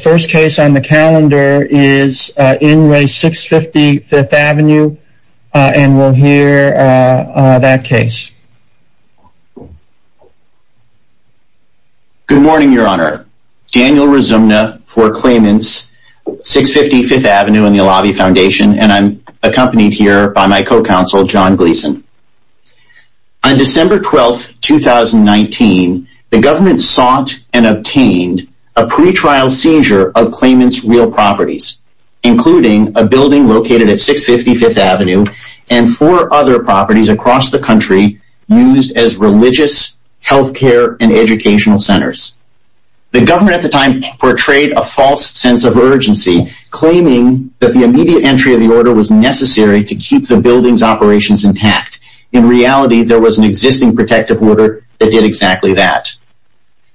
The first case on the calendar is in re. 650 Fifth Avenue and we'll hear that case. Good morning your honor, Daniel Razumna for Claimants, 650 Fifth Avenue and the Alavi Foundation and I'm accompanied here by my co-counsel John Gleason. On December 12, 2019, the government sought and obtained a pre-trial seizure of Claimants' real properties, including a building located at 650 Fifth Avenue and four other properties across the country used as religious, health care, and educational centers. The government at the time portrayed a false sense of urgency, claiming that the immediate entry of the order was necessary to keep the building's operations intact. In reality, there was an existing protective order that did exactly that.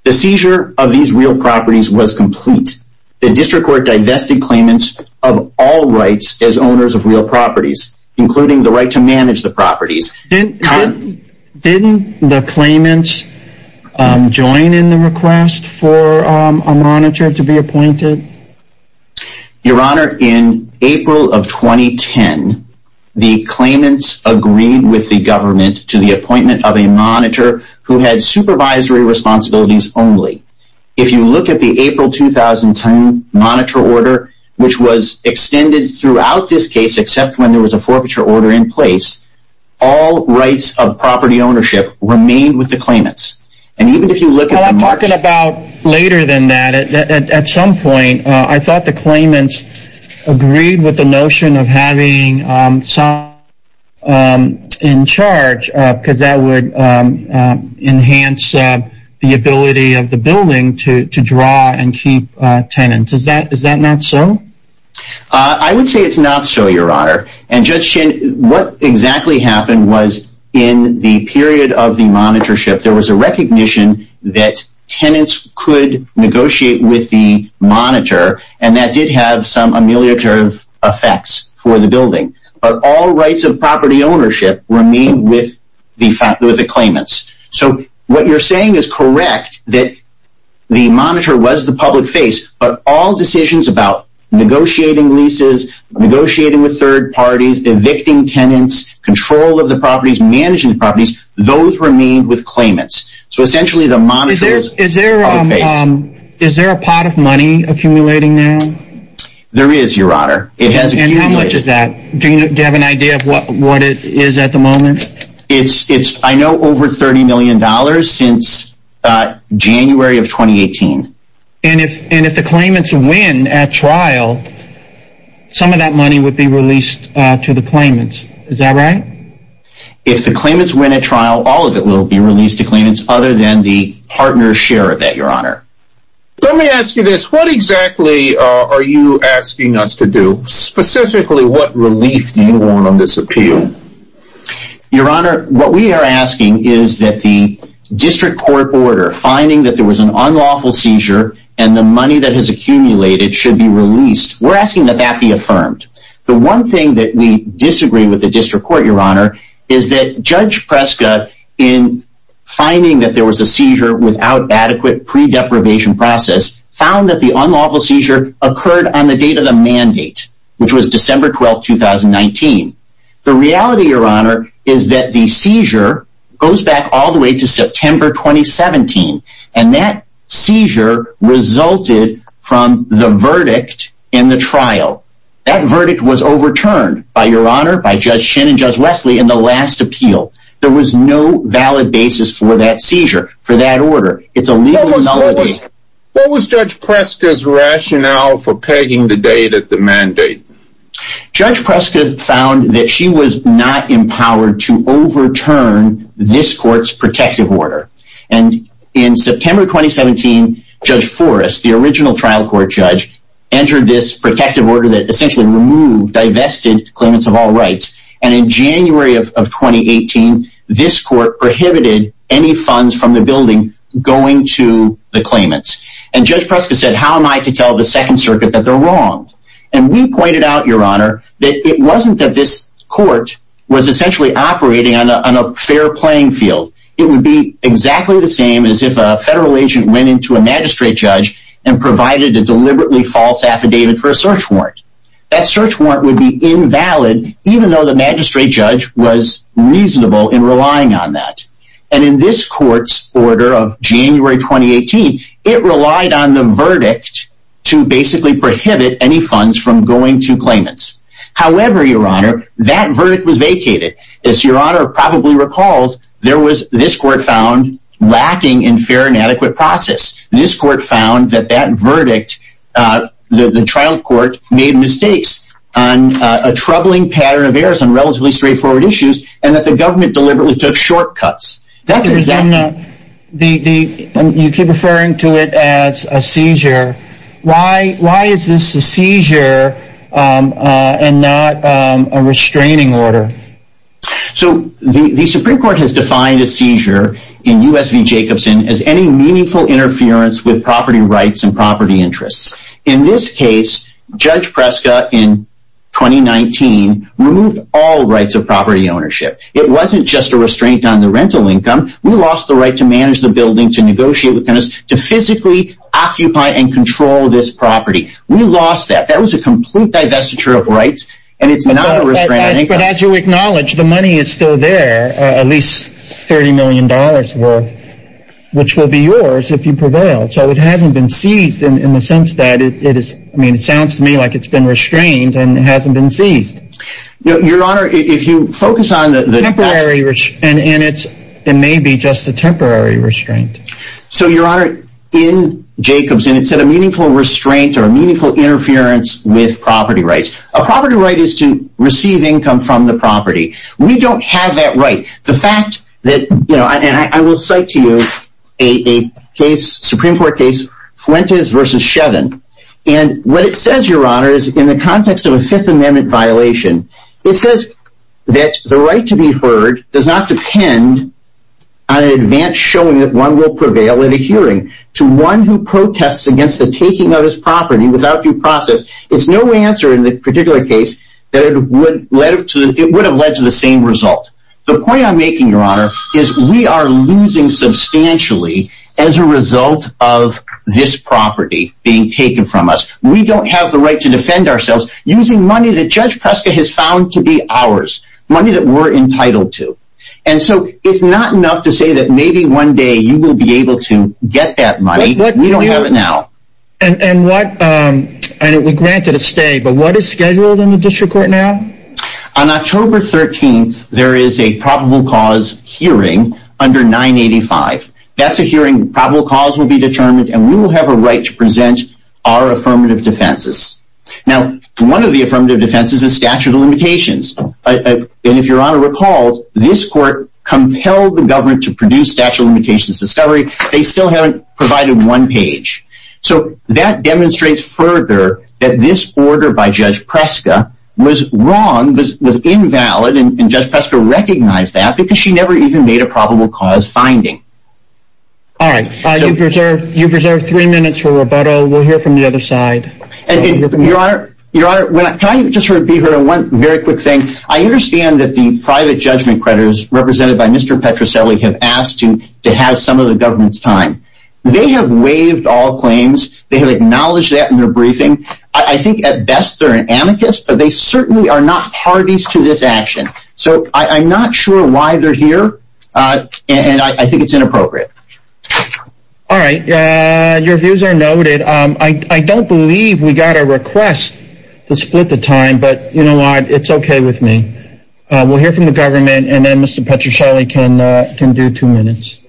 The seizure of these real properties was complete. The district court divested Claimants of all rights as owners of real properties, including the right to manage the properties. Didn't the Claimants join in the request for a monitor to be appointed? Your honor, in April of 2010, the Claimants agreed with the government to the appointment of a monitor who had supervisory responsibilities only. If you look at the April 2010 monitor order, which was extended throughout this case except when there was a forfeiture order in place, all rights of property ownership remained with the Claimants. I'm talking about later than that. At some point, I thought the Claimants agreed with the notion of having someone in charge because that would enhance the ability of the building to draw and keep tenants. Is that not so? I would say it's not so, your honor. Judge Chin, what exactly happened was in the period of the monitorship, there was a recognition that tenants could negotiate with the monitor and that did have some ameliorative effects for the building. But all rights of property ownership remained with the Claimants. So what you're saying is correct that the monitor was the public face, but all decisions about negotiating leases, negotiating with third parties, evicting tenants, control of the properties, managing the properties, those remained with Claimants. So essentially the monitor was the public face. Is there a pot of money accumulating now? There is, your honor. It has accumulated. And how much is that? Do you have an idea of what it is at the moment? I know over $30 million since January of 2018. And if the Claimants win at trial, some of that money would be released to the Claimants. Is that right? If the Claimants win at trial, all of it will be released to Claimants other than the partner's share of that, your honor. Let me ask you this. What exactly are you asking us to do? Specifically, what relief do you want on this appeal? Your honor, what we are asking is that the district court order, finding that there was an unlawful seizure and the money that has accumulated should be released, we are asking that that be affirmed. The one thing that we disagree with the district court, your honor, is that Judge Preska, in finding that there was a seizure without adequate pre-deprivation process, found that the unlawful seizure occurred on the date of the mandate, which was December 12, 2019. The reality, your honor, is that the seizure goes back all the way to September 2017. And that seizure resulted from the verdict in the trial. That verdict was overturned, by your honor, by Judge Shin and Judge Wesley in the last appeal. There was no valid basis for that seizure, for that order. It's a legal non-legal. What was Judge Preska's rationale for pegging the date of the mandate? Judge Preska found that she was not empowered to overturn this court's protective order. And in September 2017, Judge Forrest, the original trial court judge, entered this protective order that essentially removed, divested claimants of all rights. And in January of 2018, this court prohibited any funds from the building going to the claimants. And Judge Preska said, how am I to tell the Second Circuit that they're wrong? And we pointed out, your honor, that it wasn't that this court was essentially operating on a fair playing field. It would be exactly the same as if a federal agent went into a magistrate judge and provided a deliberately false affidavit for a search warrant. That search warrant would be invalid, even though the magistrate judge was reasonable in relying on that. And in this court's order of January 2018, it relied on the verdict to basically prohibit any funds from going to claimants. However, your honor, that verdict was vacated. As your honor probably recalls, there was, this court found, lacking in fair and adequate process. This court found that that verdict, the trial court, made mistakes on a troubling pattern of errors on relatively straightforward issues, and that the government deliberately took shortcuts. That's exactly- You keep referring to it as a seizure. Why is this a seizure and not a restraining order? So the Supreme Court has defined a seizure in U.S. v. Jacobson as any meaningful interference with property rights and property interests. In this case, Judge Preska, in 2019, removed all rights of property ownership. It wasn't just a restraint on the rental income. We lost the right to manage the building, to negotiate with tenants, to physically occupy and control this property. We lost that. That was a complete divestiture of rights, and it's not a restraint on income. But as you acknowledge, the money is still there, at least $30 million worth, which will be yours if you prevail. So it hasn't been seized in the sense that it is, I mean, it sounds to me like it's been restrained and it hasn't been seized. Your Honor, if you focus on the- Temporary, and it may be just a temporary restraint. So Your Honor, in Jacobson, it said a meaningful restraint or a meaningful interference with property rights. A property right is to receive income from the property. We don't have that right. The fact that, and I will cite to you a Supreme Court case, Fuentes v. Shevin, and what it says in the Fifth Amendment violation, it says that the right to be heard does not depend on an advance showing that one will prevail at a hearing to one who protests against the taking of his property without due process. It's no answer in the particular case that it would have led to the same result. The point I'm making, Your Honor, is we are losing substantially as a result of this property being taken from us. We don't have the right to defend ourselves using money that Judge Preska has found to be ours, money that we're entitled to. And so it's not enough to say that maybe one day you will be able to get that money. We don't have it now. And what, and it would grant it a stay, but what is scheduled in the district court now? On October 13th, there is a probable cause hearing under 985. That's a hearing, probable cause will be determined, and we will have a right to present our affirmative defenses. Now, one of the affirmative defenses is statute of limitations, and if Your Honor recalls, this court compelled the government to produce statute of limitations discovery, they still haven't provided one page. So that demonstrates further that this order by Judge Preska was wrong, was invalid, and Judge Preska recognized that because she never even made a probable cause finding. All right, you've reserved three minutes for rebuttal, we'll hear from the other side. Your Honor, can I just sort of be heard on one very quick thing? I understand that the private judgment creditors represented by Mr. Petroselli have asked to have some of the government's time. They have waived all claims, they have acknowledged that in their briefing. I think at best they're an amicus, but they certainly are not parties to this action. So I'm not sure why they're here, and I think it's inappropriate. All right, your views are noted. I don't believe we got a request to split the time, but you know what, it's okay with me. We'll hear from the government, and then Mr. Petroselli can do two minutes.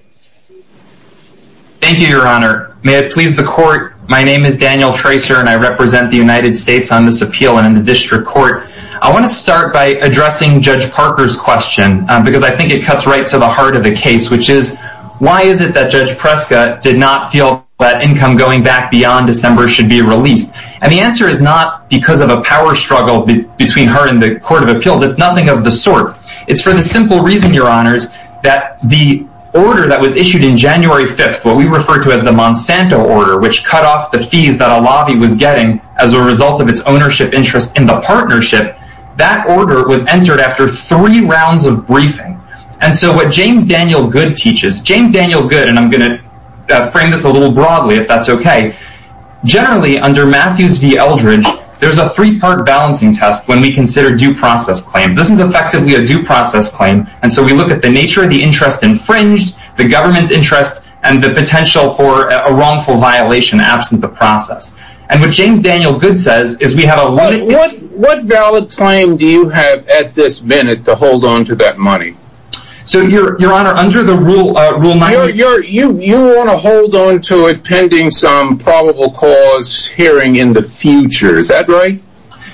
Thank you, Your Honor. May it please the court, my name is Daniel Tracer, and I represent the United States on this appeal and in the district court. I want to start by addressing Judge Parker's question, because I think it cuts right to the heart of the case, which is, why is it that Judge Preska did not feel that income going back beyond December should be released? And the answer is not because of a power struggle between her and the Court of Appeals, it's nothing of the sort. It's for the simple reason, Your Honors, that the order that was issued in January 5th, what we refer to as the Monsanto order, which cut off the fees that a lobby was getting as a result of its ownership interest in the partnership, that order was entered after three rounds of briefing. And so what James Daniel Goode teaches, James Daniel Goode, and I'm going to frame this a little broadly if that's okay, generally under Matthews v. Eldridge, there's a three-part balancing test when we consider due process claims. This is effectively a due process claim, and so we look at the nature of the interest infringed, the government's interest, and the potential for a wrongful violation absent the process. And what James Daniel Goode says is we have a... What valid claim do you have at this minute to hold on to that money? So Your Honor, under the Rule 98... You want to hold on to it pending some probable cause hearing in the future, is that right?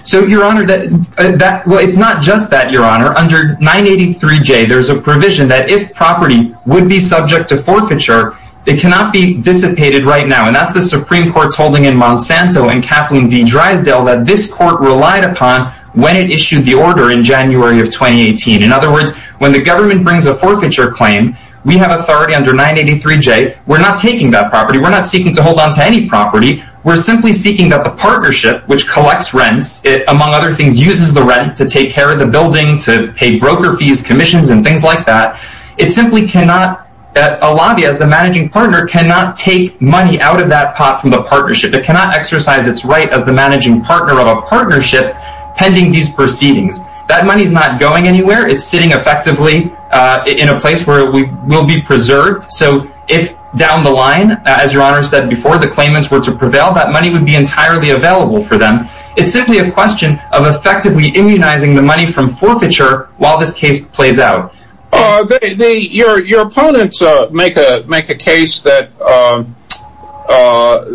So Your Honor, it's not just that, Your Honor. Under 983J, there's a provision that if property would be subject to forfeiture, it cannot be dissipated right now, and that's the Supreme Court's holding in Monsanto in Kaplan v. Drysdale that this court relied upon when it issued the order in January of 2018. In other words, when the government brings a forfeiture claim, we have authority under 983J, we're not taking that property, we're not seeking to hold on to any property. We're simply seeking that the partnership, which collects rents, among other things, uses the rent to take care of the building, to pay broker fees, commissions, and things like that. It simply cannot, a lobby as the managing partner cannot take money out of that pot from the partnership. It cannot exercise its right as the managing partner of a partnership pending these proceedings. That money's not going anywhere, it's sitting effectively in a place where it will be preserved. So if down the line, as Your Honor said before, the claimants were to prevail, that money would be entirely available for them. It's simply a question of effectively immunizing the money from forfeiture while this case plays out. Your opponents make a case that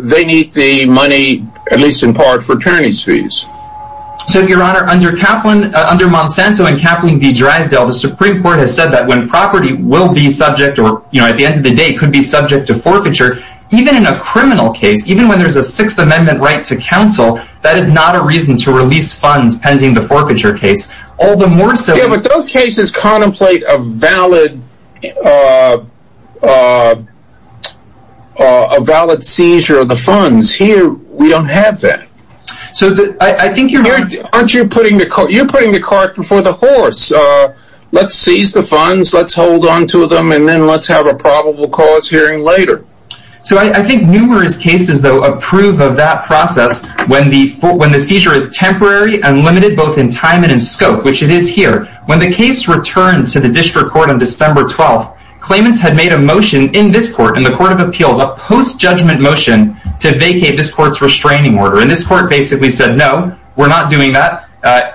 they need the money, at least in part, for tyranny's fees. So Your Honor, under Monsanto and Kaplan v. Drysdale, the Supreme Court has said that when property will be subject, or at the end of the day could be subject to forfeiture, even in a criminal case, even when there's a Sixth Amendment right to counsel, that is not a reason to release funds pending the forfeiture case. All the more so... Yeah, but those cases contemplate a valid seizure of the funds. Here we don't have that. So I think Your Honor... Aren't you putting the cart before the horse? Let's seize the funds, let's hold on to them, and then let's have a probable cause hearing later. So I think numerous cases, though, approve of that process when the seizure is temporary and limited both in time and in scope, which it is here. When the case returned to the district court on December 12th, claimants had made a motion in this court, in the Court of Appeals, a post-judgment motion to vacate this court's restraining order. And this court basically said, no, we're not doing that.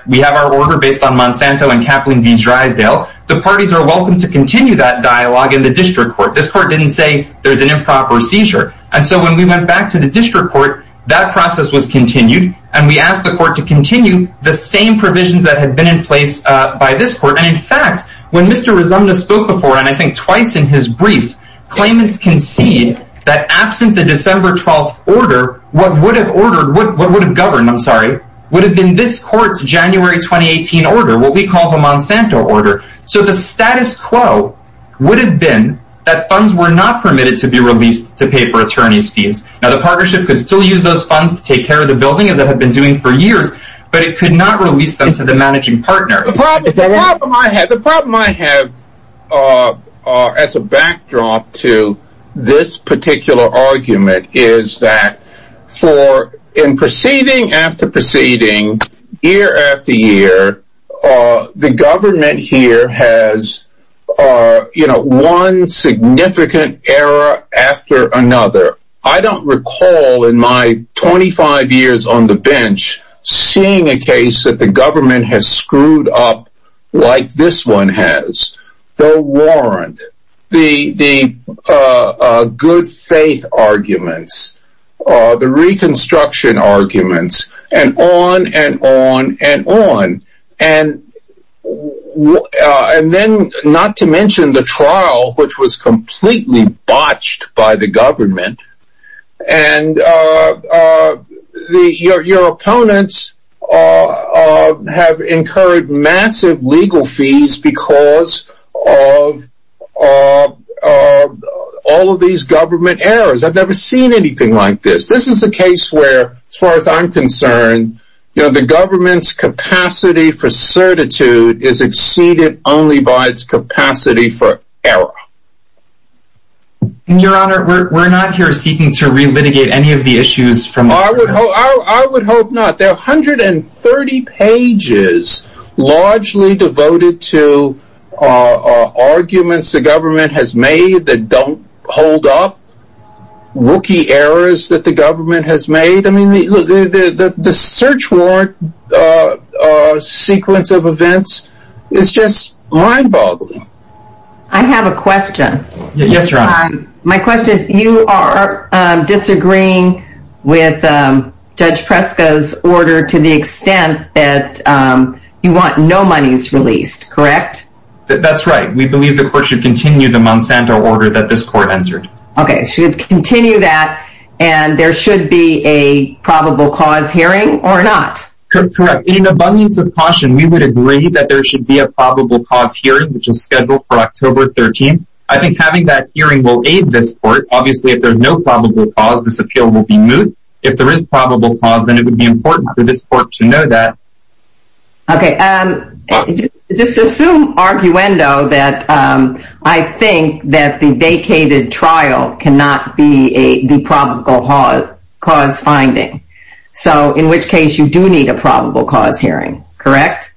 We have our order based on Monsanto and Kaplan v. Drysdale. The parties are welcome to continue that dialogue in the district court. This court didn't say there's an improper seizure. And so when we went back to the district court, that process was continued, and we asked the district court to continue the same provisions that had been in place by this court. And in fact, when Mr. Resumnos spoke before, and I think twice in his brief, claimants concede that absent the December 12th order, what would have governed would have been this court's January 2018 order, what we call the Monsanto order. So the status quo would have been that funds were not permitted to be released to pay for attorneys' fees. Now, the partnership could still use those funds to take care of the building, as it had been doing for years. But it could not release them to the managing partner. The problem I have as a backdrop to this particular argument is that for in proceeding after proceeding, year after year, the government here has, you know, one significant error after another. I don't recall in my 25 years on the bench seeing a case that the government has screwed up like this one has. The warrant, the good faith arguments, the reconstruction arguments, and on and on and on. And then not to mention the trial, which was completely botched by the government. And your opponents have incurred massive legal fees because of all of these government errors. I've never seen anything like this. This is a case where, as far as I'm concerned, you know, the government's capacity for certitude is exceeded only by its capacity for error. And your honor, we're not here seeking to relitigate any of the issues from our, I would hope not. There are 130 pages largely devoted to arguments the government has made that don't hold up wookie errors that the government has made. I mean, the search warrant sequence of events is just mind boggling. I have a question. Yes, your honor. My question is, you are disagreeing with Judge Preska's order to the extent that you want no monies released, correct? That's right. We believe the court should continue the Monsanto order that this court entered. Okay. Should continue that, and there should be a probable cause hearing or not? Correct. In an abundance of caution, we would agree that there should be a probable cause hearing, which is scheduled for October 13th. I think having that hearing will aid this court. Obviously, if there's no probable cause, this appeal will be moved. If there is probable cause, then it would be important for this court to know that. Okay. Just assume, arguendo, that I think that the vacated trial cannot be the probable cause finding. So, in which case, you do need a probable cause hearing, correct?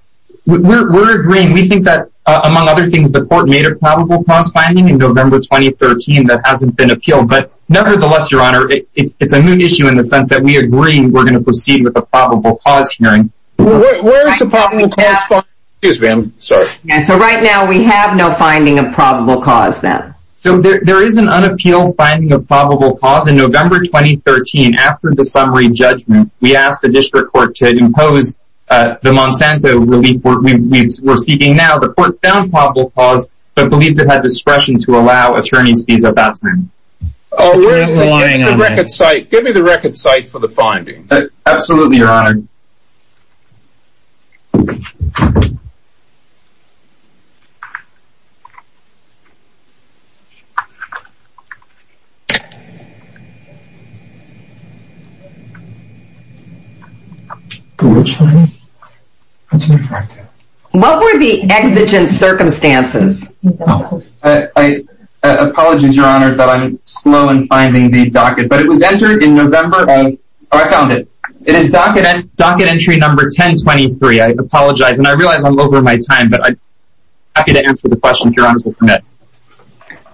We're agreeing. We think that, among other things, the court made a probable cause finding in November 2013 that hasn't been appealed, but nevertheless, your honor, it's a new issue in the sense that we agree we're going to proceed with a probable cause hearing. Where is the probable cause finding? Excuse me, I'm sorry. Yeah, so right now, we have no finding of probable cause then. So, there is an unappealed finding of probable cause in November 2013 after the summary judgment. We asked the district court to impose the Monsanto relief we're seeking now. The court found probable cause, but believed it had discretion to allow attorney's fees at that time. Oh, where's the... There's a line on there. Give me the record cite for the finding. Absolutely, your honor. What were the exigent circumstances? I apologize, your honor, that I'm slow in finding the docket, but it was entered in November of... Oh, I found it. It is docket entry number 1023. I apologize, and I realize I'm over my time, but I'm happy to answer the question, if your honors will permit.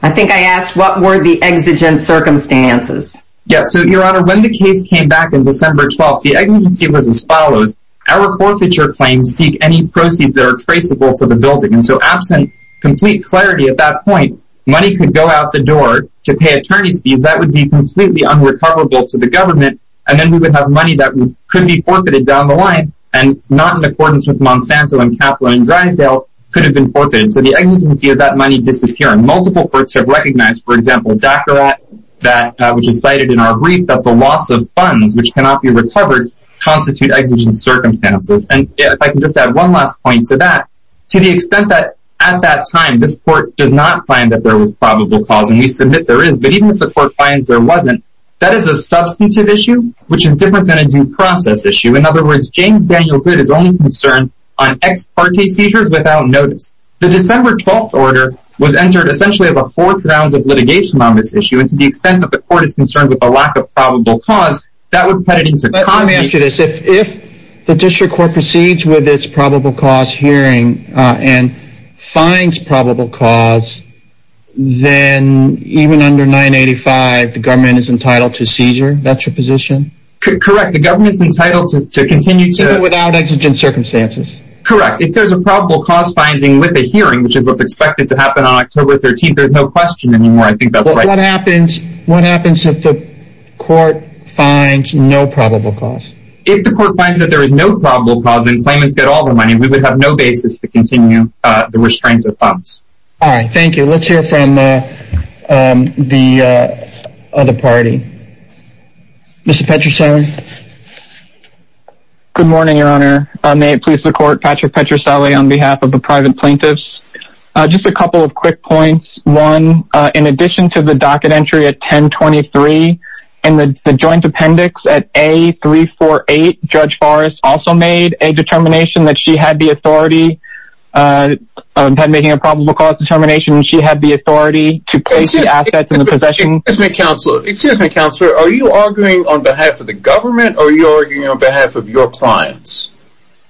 I think I asked, what were the exigent circumstances? Yeah, so your honor, when the case came back in December 12th, the exigency was as follows. Our forfeiture claims seek any proceeds that are traceable to the building, and so absent complete clarity at that point, money could go out the door to pay attorney's fees. That would be completely unrecoverable to the government, and then we would have money that could be forfeited down the line, and not in accordance with Monsanto and Capra and Drysdale, could have been forfeited. So the exigency of that money disappearing. Multiple courts have recognized, for example, DACARA, which is cited in our brief, that the loss of funds, which cannot be recovered, constitute exigent circumstances. And if I could just add one last point to that, to the extent that at that time, this court does not find that there was probable cause, and we submit there is, but even if the court finds there wasn't, that is a substantive issue, which is different than a due process issue. In other words, James Daniel Goode is only concerned on ex-parte seizures without notice. The December 12th order was entered essentially as a fourth round of litigation on this issue, and to the extent that the court is concerned with the lack of probable cause, that would put it into context. But let me ask you this, if the district court proceeds with its probable cause hearing, and finds probable cause, then even under 985, the government is entitled to seizure? That's your position? Correct. The government's entitled to continue to... Even without exigent circumstances? Correct. If there's a probable cause finding with a hearing, which is what's expected to happen on October 13th, there's no question anymore. I think that's right. What happens if the court finds no probable cause? If the court finds that there is no probable cause, and claimants get all their money, we would have no basis to continue the restraint of funds. All right, thank you. Let's hear from the other party. Mr. Petricelli? Good morning, Your Honor. May it please the court, Patrick Petricelli on behalf of the private plaintiffs. Just a couple of quick points. One, in addition to the docket entry at 1023, and the joint appendix at A348, Judge Forrest also made a determination that she had the authority on making a probable cause determination. She had the authority to place the assets in the possession... Excuse me, Counselor. Excuse me, Counselor. Are you arguing on behalf of the government, or are you arguing on behalf of your clients?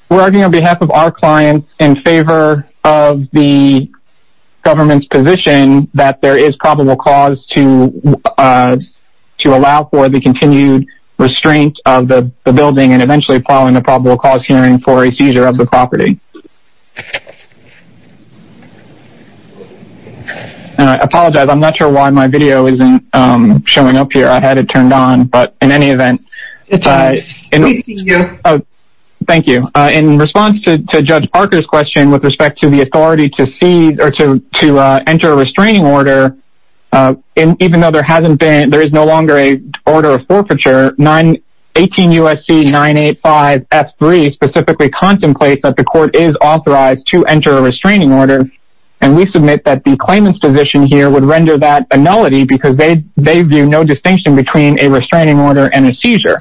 We're arguing on behalf of our clients in favor of the government's position that there is probable cause to allow for the continued restraint of the building, and eventually filing a probable cause hearing for a seizure of the property. And I apologize, I'm not sure why my video isn't showing up here. I had it turned on, but in any event... It's all right. We see you. Oh, thank you. In response to Judge Parker's question with respect to the authority to enter a restraining order, even though there is no longer an order of forfeiture, 18 U.S.C. 985-F3 specifically contemplates that the court is authorized to enter a restraining order, and we submit that the claimant's position here would render that a nullity because they view no distinction between a restraining order and a seizure.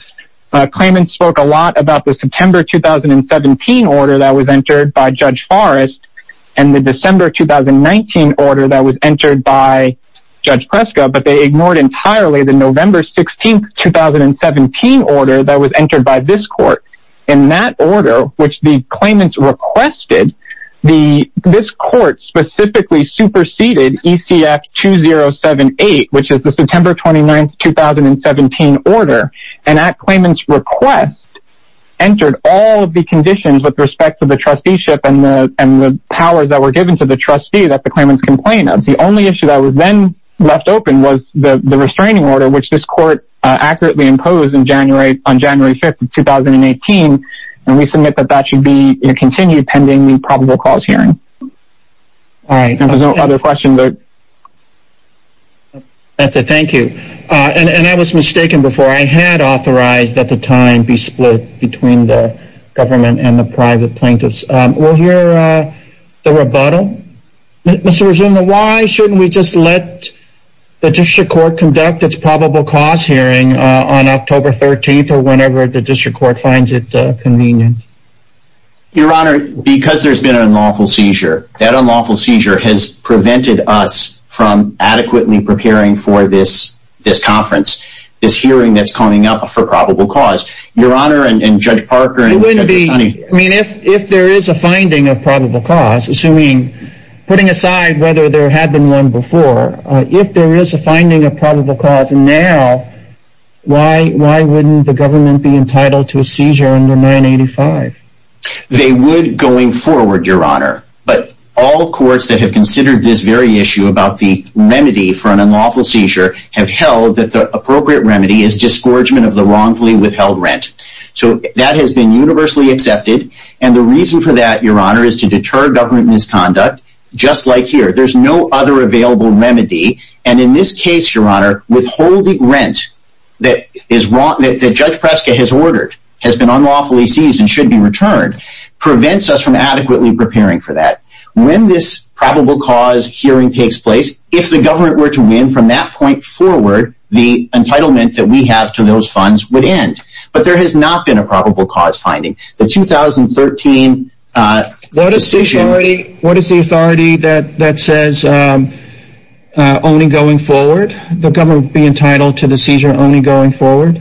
Claimants spoke a lot about the September 2017 order that was entered by Judge Forrest, and the December 2019 order that was entered by Judge Preska, but they ignored entirely the November 16, 2017 order that was entered by this court. In that order, which the claimants requested, this court specifically superseded ECF-2078, which is the September 29, 2017 order, and that claimant's request entered all of the conditions with respect to the trusteeship and the powers that were given to the trustee that the claimants complained of. The only issue that was then left open was the restraining order, which this court accurately imposed on January 5, 2018, and we submit that that should be continued pending the probable cause hearing. All right, if there's no other questions... That's it. Thank you. And I was mistaken before. I had authorized that the time be split between the government and the private plaintiffs. We'll hear the rebuttal. Mr. Rizzuto, why shouldn't we just let the district court conduct its probable cause hearing on October 13th or whenever the district court finds it convenient? Your Honor, because there's been an unlawful seizure, that unlawful seizure has prevented us from adequately preparing for this conference, this hearing that's coming up for probable cause. Your Honor, and Judge Parker... It wouldn't be... I mean, if there is a finding of probable cause, assuming, putting aside whether there had been one before, if there is a finding of probable cause now, why wouldn't the government be entitled to a seizure under 985? They would going forward, Your Honor. But all courts that have considered this very issue about the remedy for an unlawful seizure have held that the appropriate remedy is disgorgement of the rent. So that has been universally accepted, and the reason for that, Your Honor, is to deter government misconduct, just like here. There's no other available remedy, and in this case, Your Honor, withholding rent that Judge Preska has ordered has been unlawfully seized and should be returned prevents us from adequately preparing for that. When this probable cause hearing takes place, if the government were to win from that point forward, the entitlement that we have to those funds would be 10%. But there has not been a probable cause finding. The 2013 decision... What is the authority that says, only going forward, the government would be entitled to the seizure only going forward?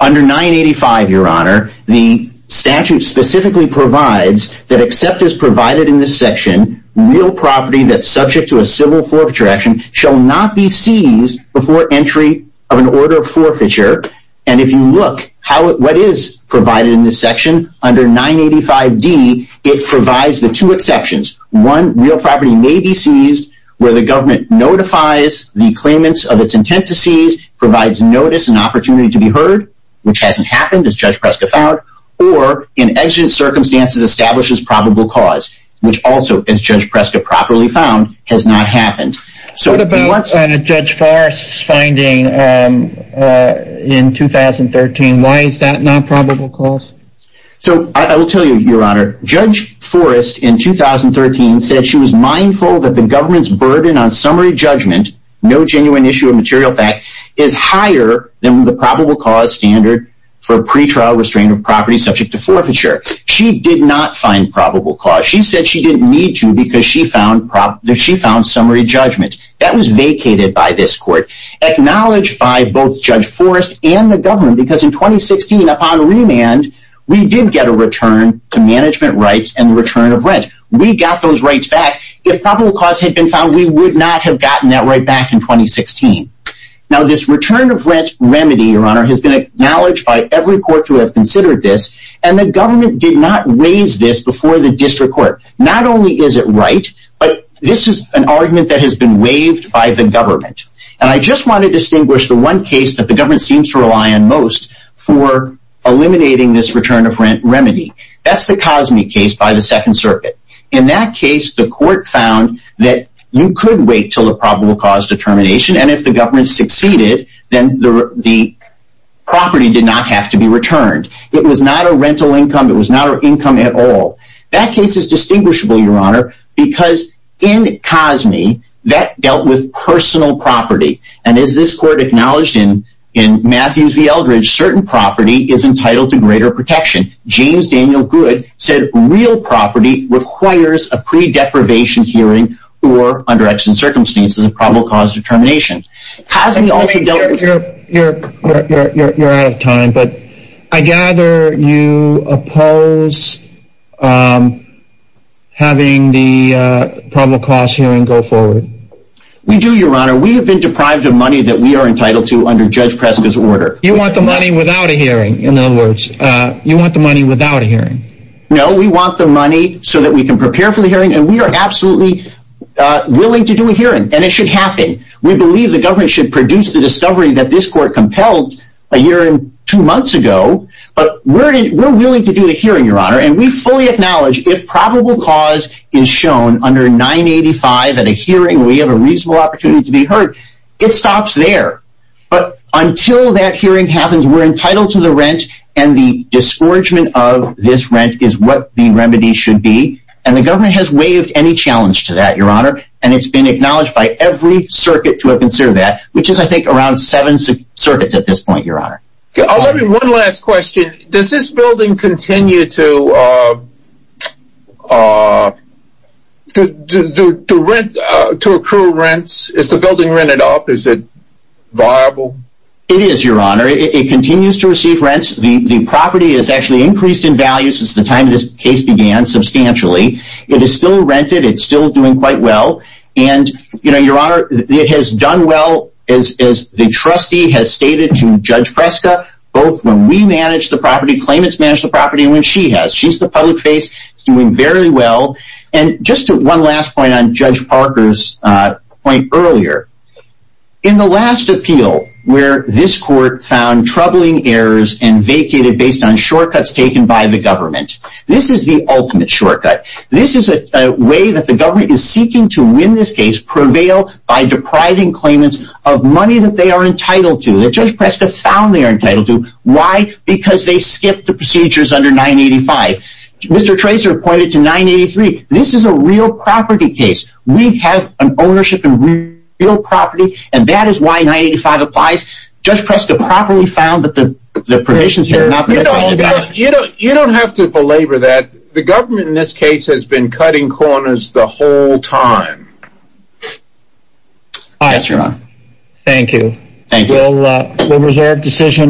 Under 985, Your Honor, the statute specifically provides that except as provided in this section, real property that's subject to a civil forfeiture action shall not be seized before entry of an order of forfeiture, and if you look at what is provided in this section, under 985D, it provides the two exceptions. One, real property may be seized where the government notifies the claimants of its intent to seize, provides notice and opportunity to be heard, which hasn't happened, as Judge Preska found, or in exigent circumstances establishes probable cause, which also, as Judge Preska properly found, has not happened. What about Judge Forrest's finding in 2013? Why is that not probable cause? So, I will tell you, Your Honor, Judge Forrest, in 2013, said she was mindful that the government's burden on summary judgment, no genuine issue of material fact, is higher than the probable cause standard for pretrial restraint of property subject to forfeiture. She did not find probable cause. She said she didn't need to because she found summary judgment. That was vacated by this court, acknowledged by both Judge Forrest and the government, because in 2016, upon remand, we did get a return to management rights and the return of rent. We got those rights back. If probable cause had been found, we would not have gotten that right back in 2016. Now, this return of rent remedy, Your Honor, has been acknowledged by every court to have considered this, and the government did not raise this before the district court. Not only is it right, but this is an argument that has been waived by the government, and I just want to distinguish the one case that the government seems to rely on most for eliminating this return of rent remedy. That's the Cosney case by the Second Circuit. In that case, the court found that you could wait until the probable cause determination, and if the government succeeded, then the property did not have to be returned. It was not a rental income. It was not an income at all. That case is distinguishable, Your Honor, because in Cosney, that dealt with personal property, and as this court acknowledged in Matthews v. Eldridge, certain property is entitled to greater protection. James Daniel Goode said real property requires a pre-deprivation hearing or, under extant circumstances, a probable cause determination. You're out of time, but I gather you oppose having the probable cause hearing go forward. We do, Your Honor. We have been deprived of money that we are entitled to under Judge Preska's order. You want the money without a hearing, in other words. You want the money without a hearing. No, we want the money so that we can prepare for the hearing, and we are absolutely willing to do a hearing, and it should happen. We believe the government should produce the discovery that this court compelled a year and two months ago, but we're willing to do the hearing, Your Honor, and we fully acknowledge if probable cause is shown under 985 at a hearing, we have a reasonable opportunity to be heard. It stops there, but until that hearing happens, we're entitled to the rent, and the disforgement of this rent is what the remedy should be, and the government has waived any challenge to that, Your Honor, and it's been acknowledged by every circuit to have considered that, which is, I think, around seven circuits at this point, Your Honor. One last question. Does this building continue to accrue rents? Is the building rented up? Is it viable? It is, Your Honor. It continues to receive rents. The property has actually increased in value since the time this case began, substantially. It is still rented. It's still doing quite well, and, Your Honor, it has done well, as the trustee has stated to Judge Preska, both when we manage the property, claimants manage the property, and when she has. She's the public face. It's doing very well, and just one last point on Judge Parker's point earlier. In the last appeal, where this court found troubling errors and vacated based on shortcuts taken by the government, this is the ultimate shortcut. This is a way that the government is seeking to win this case, prevail by depriving claimants of money that they are entitled to, that Judge Preska found they are entitled to. Why? Because they skipped the procedures under 985. Mr. Tracer pointed to 983. This is a real property case. We have an ownership in real property, and that is why 985 applies. Judge Preska properly found that the permissions had not been followed up. You don't have to belabor that. The government in this case has been cutting corners the whole time. Aye. Thank you. Thank you.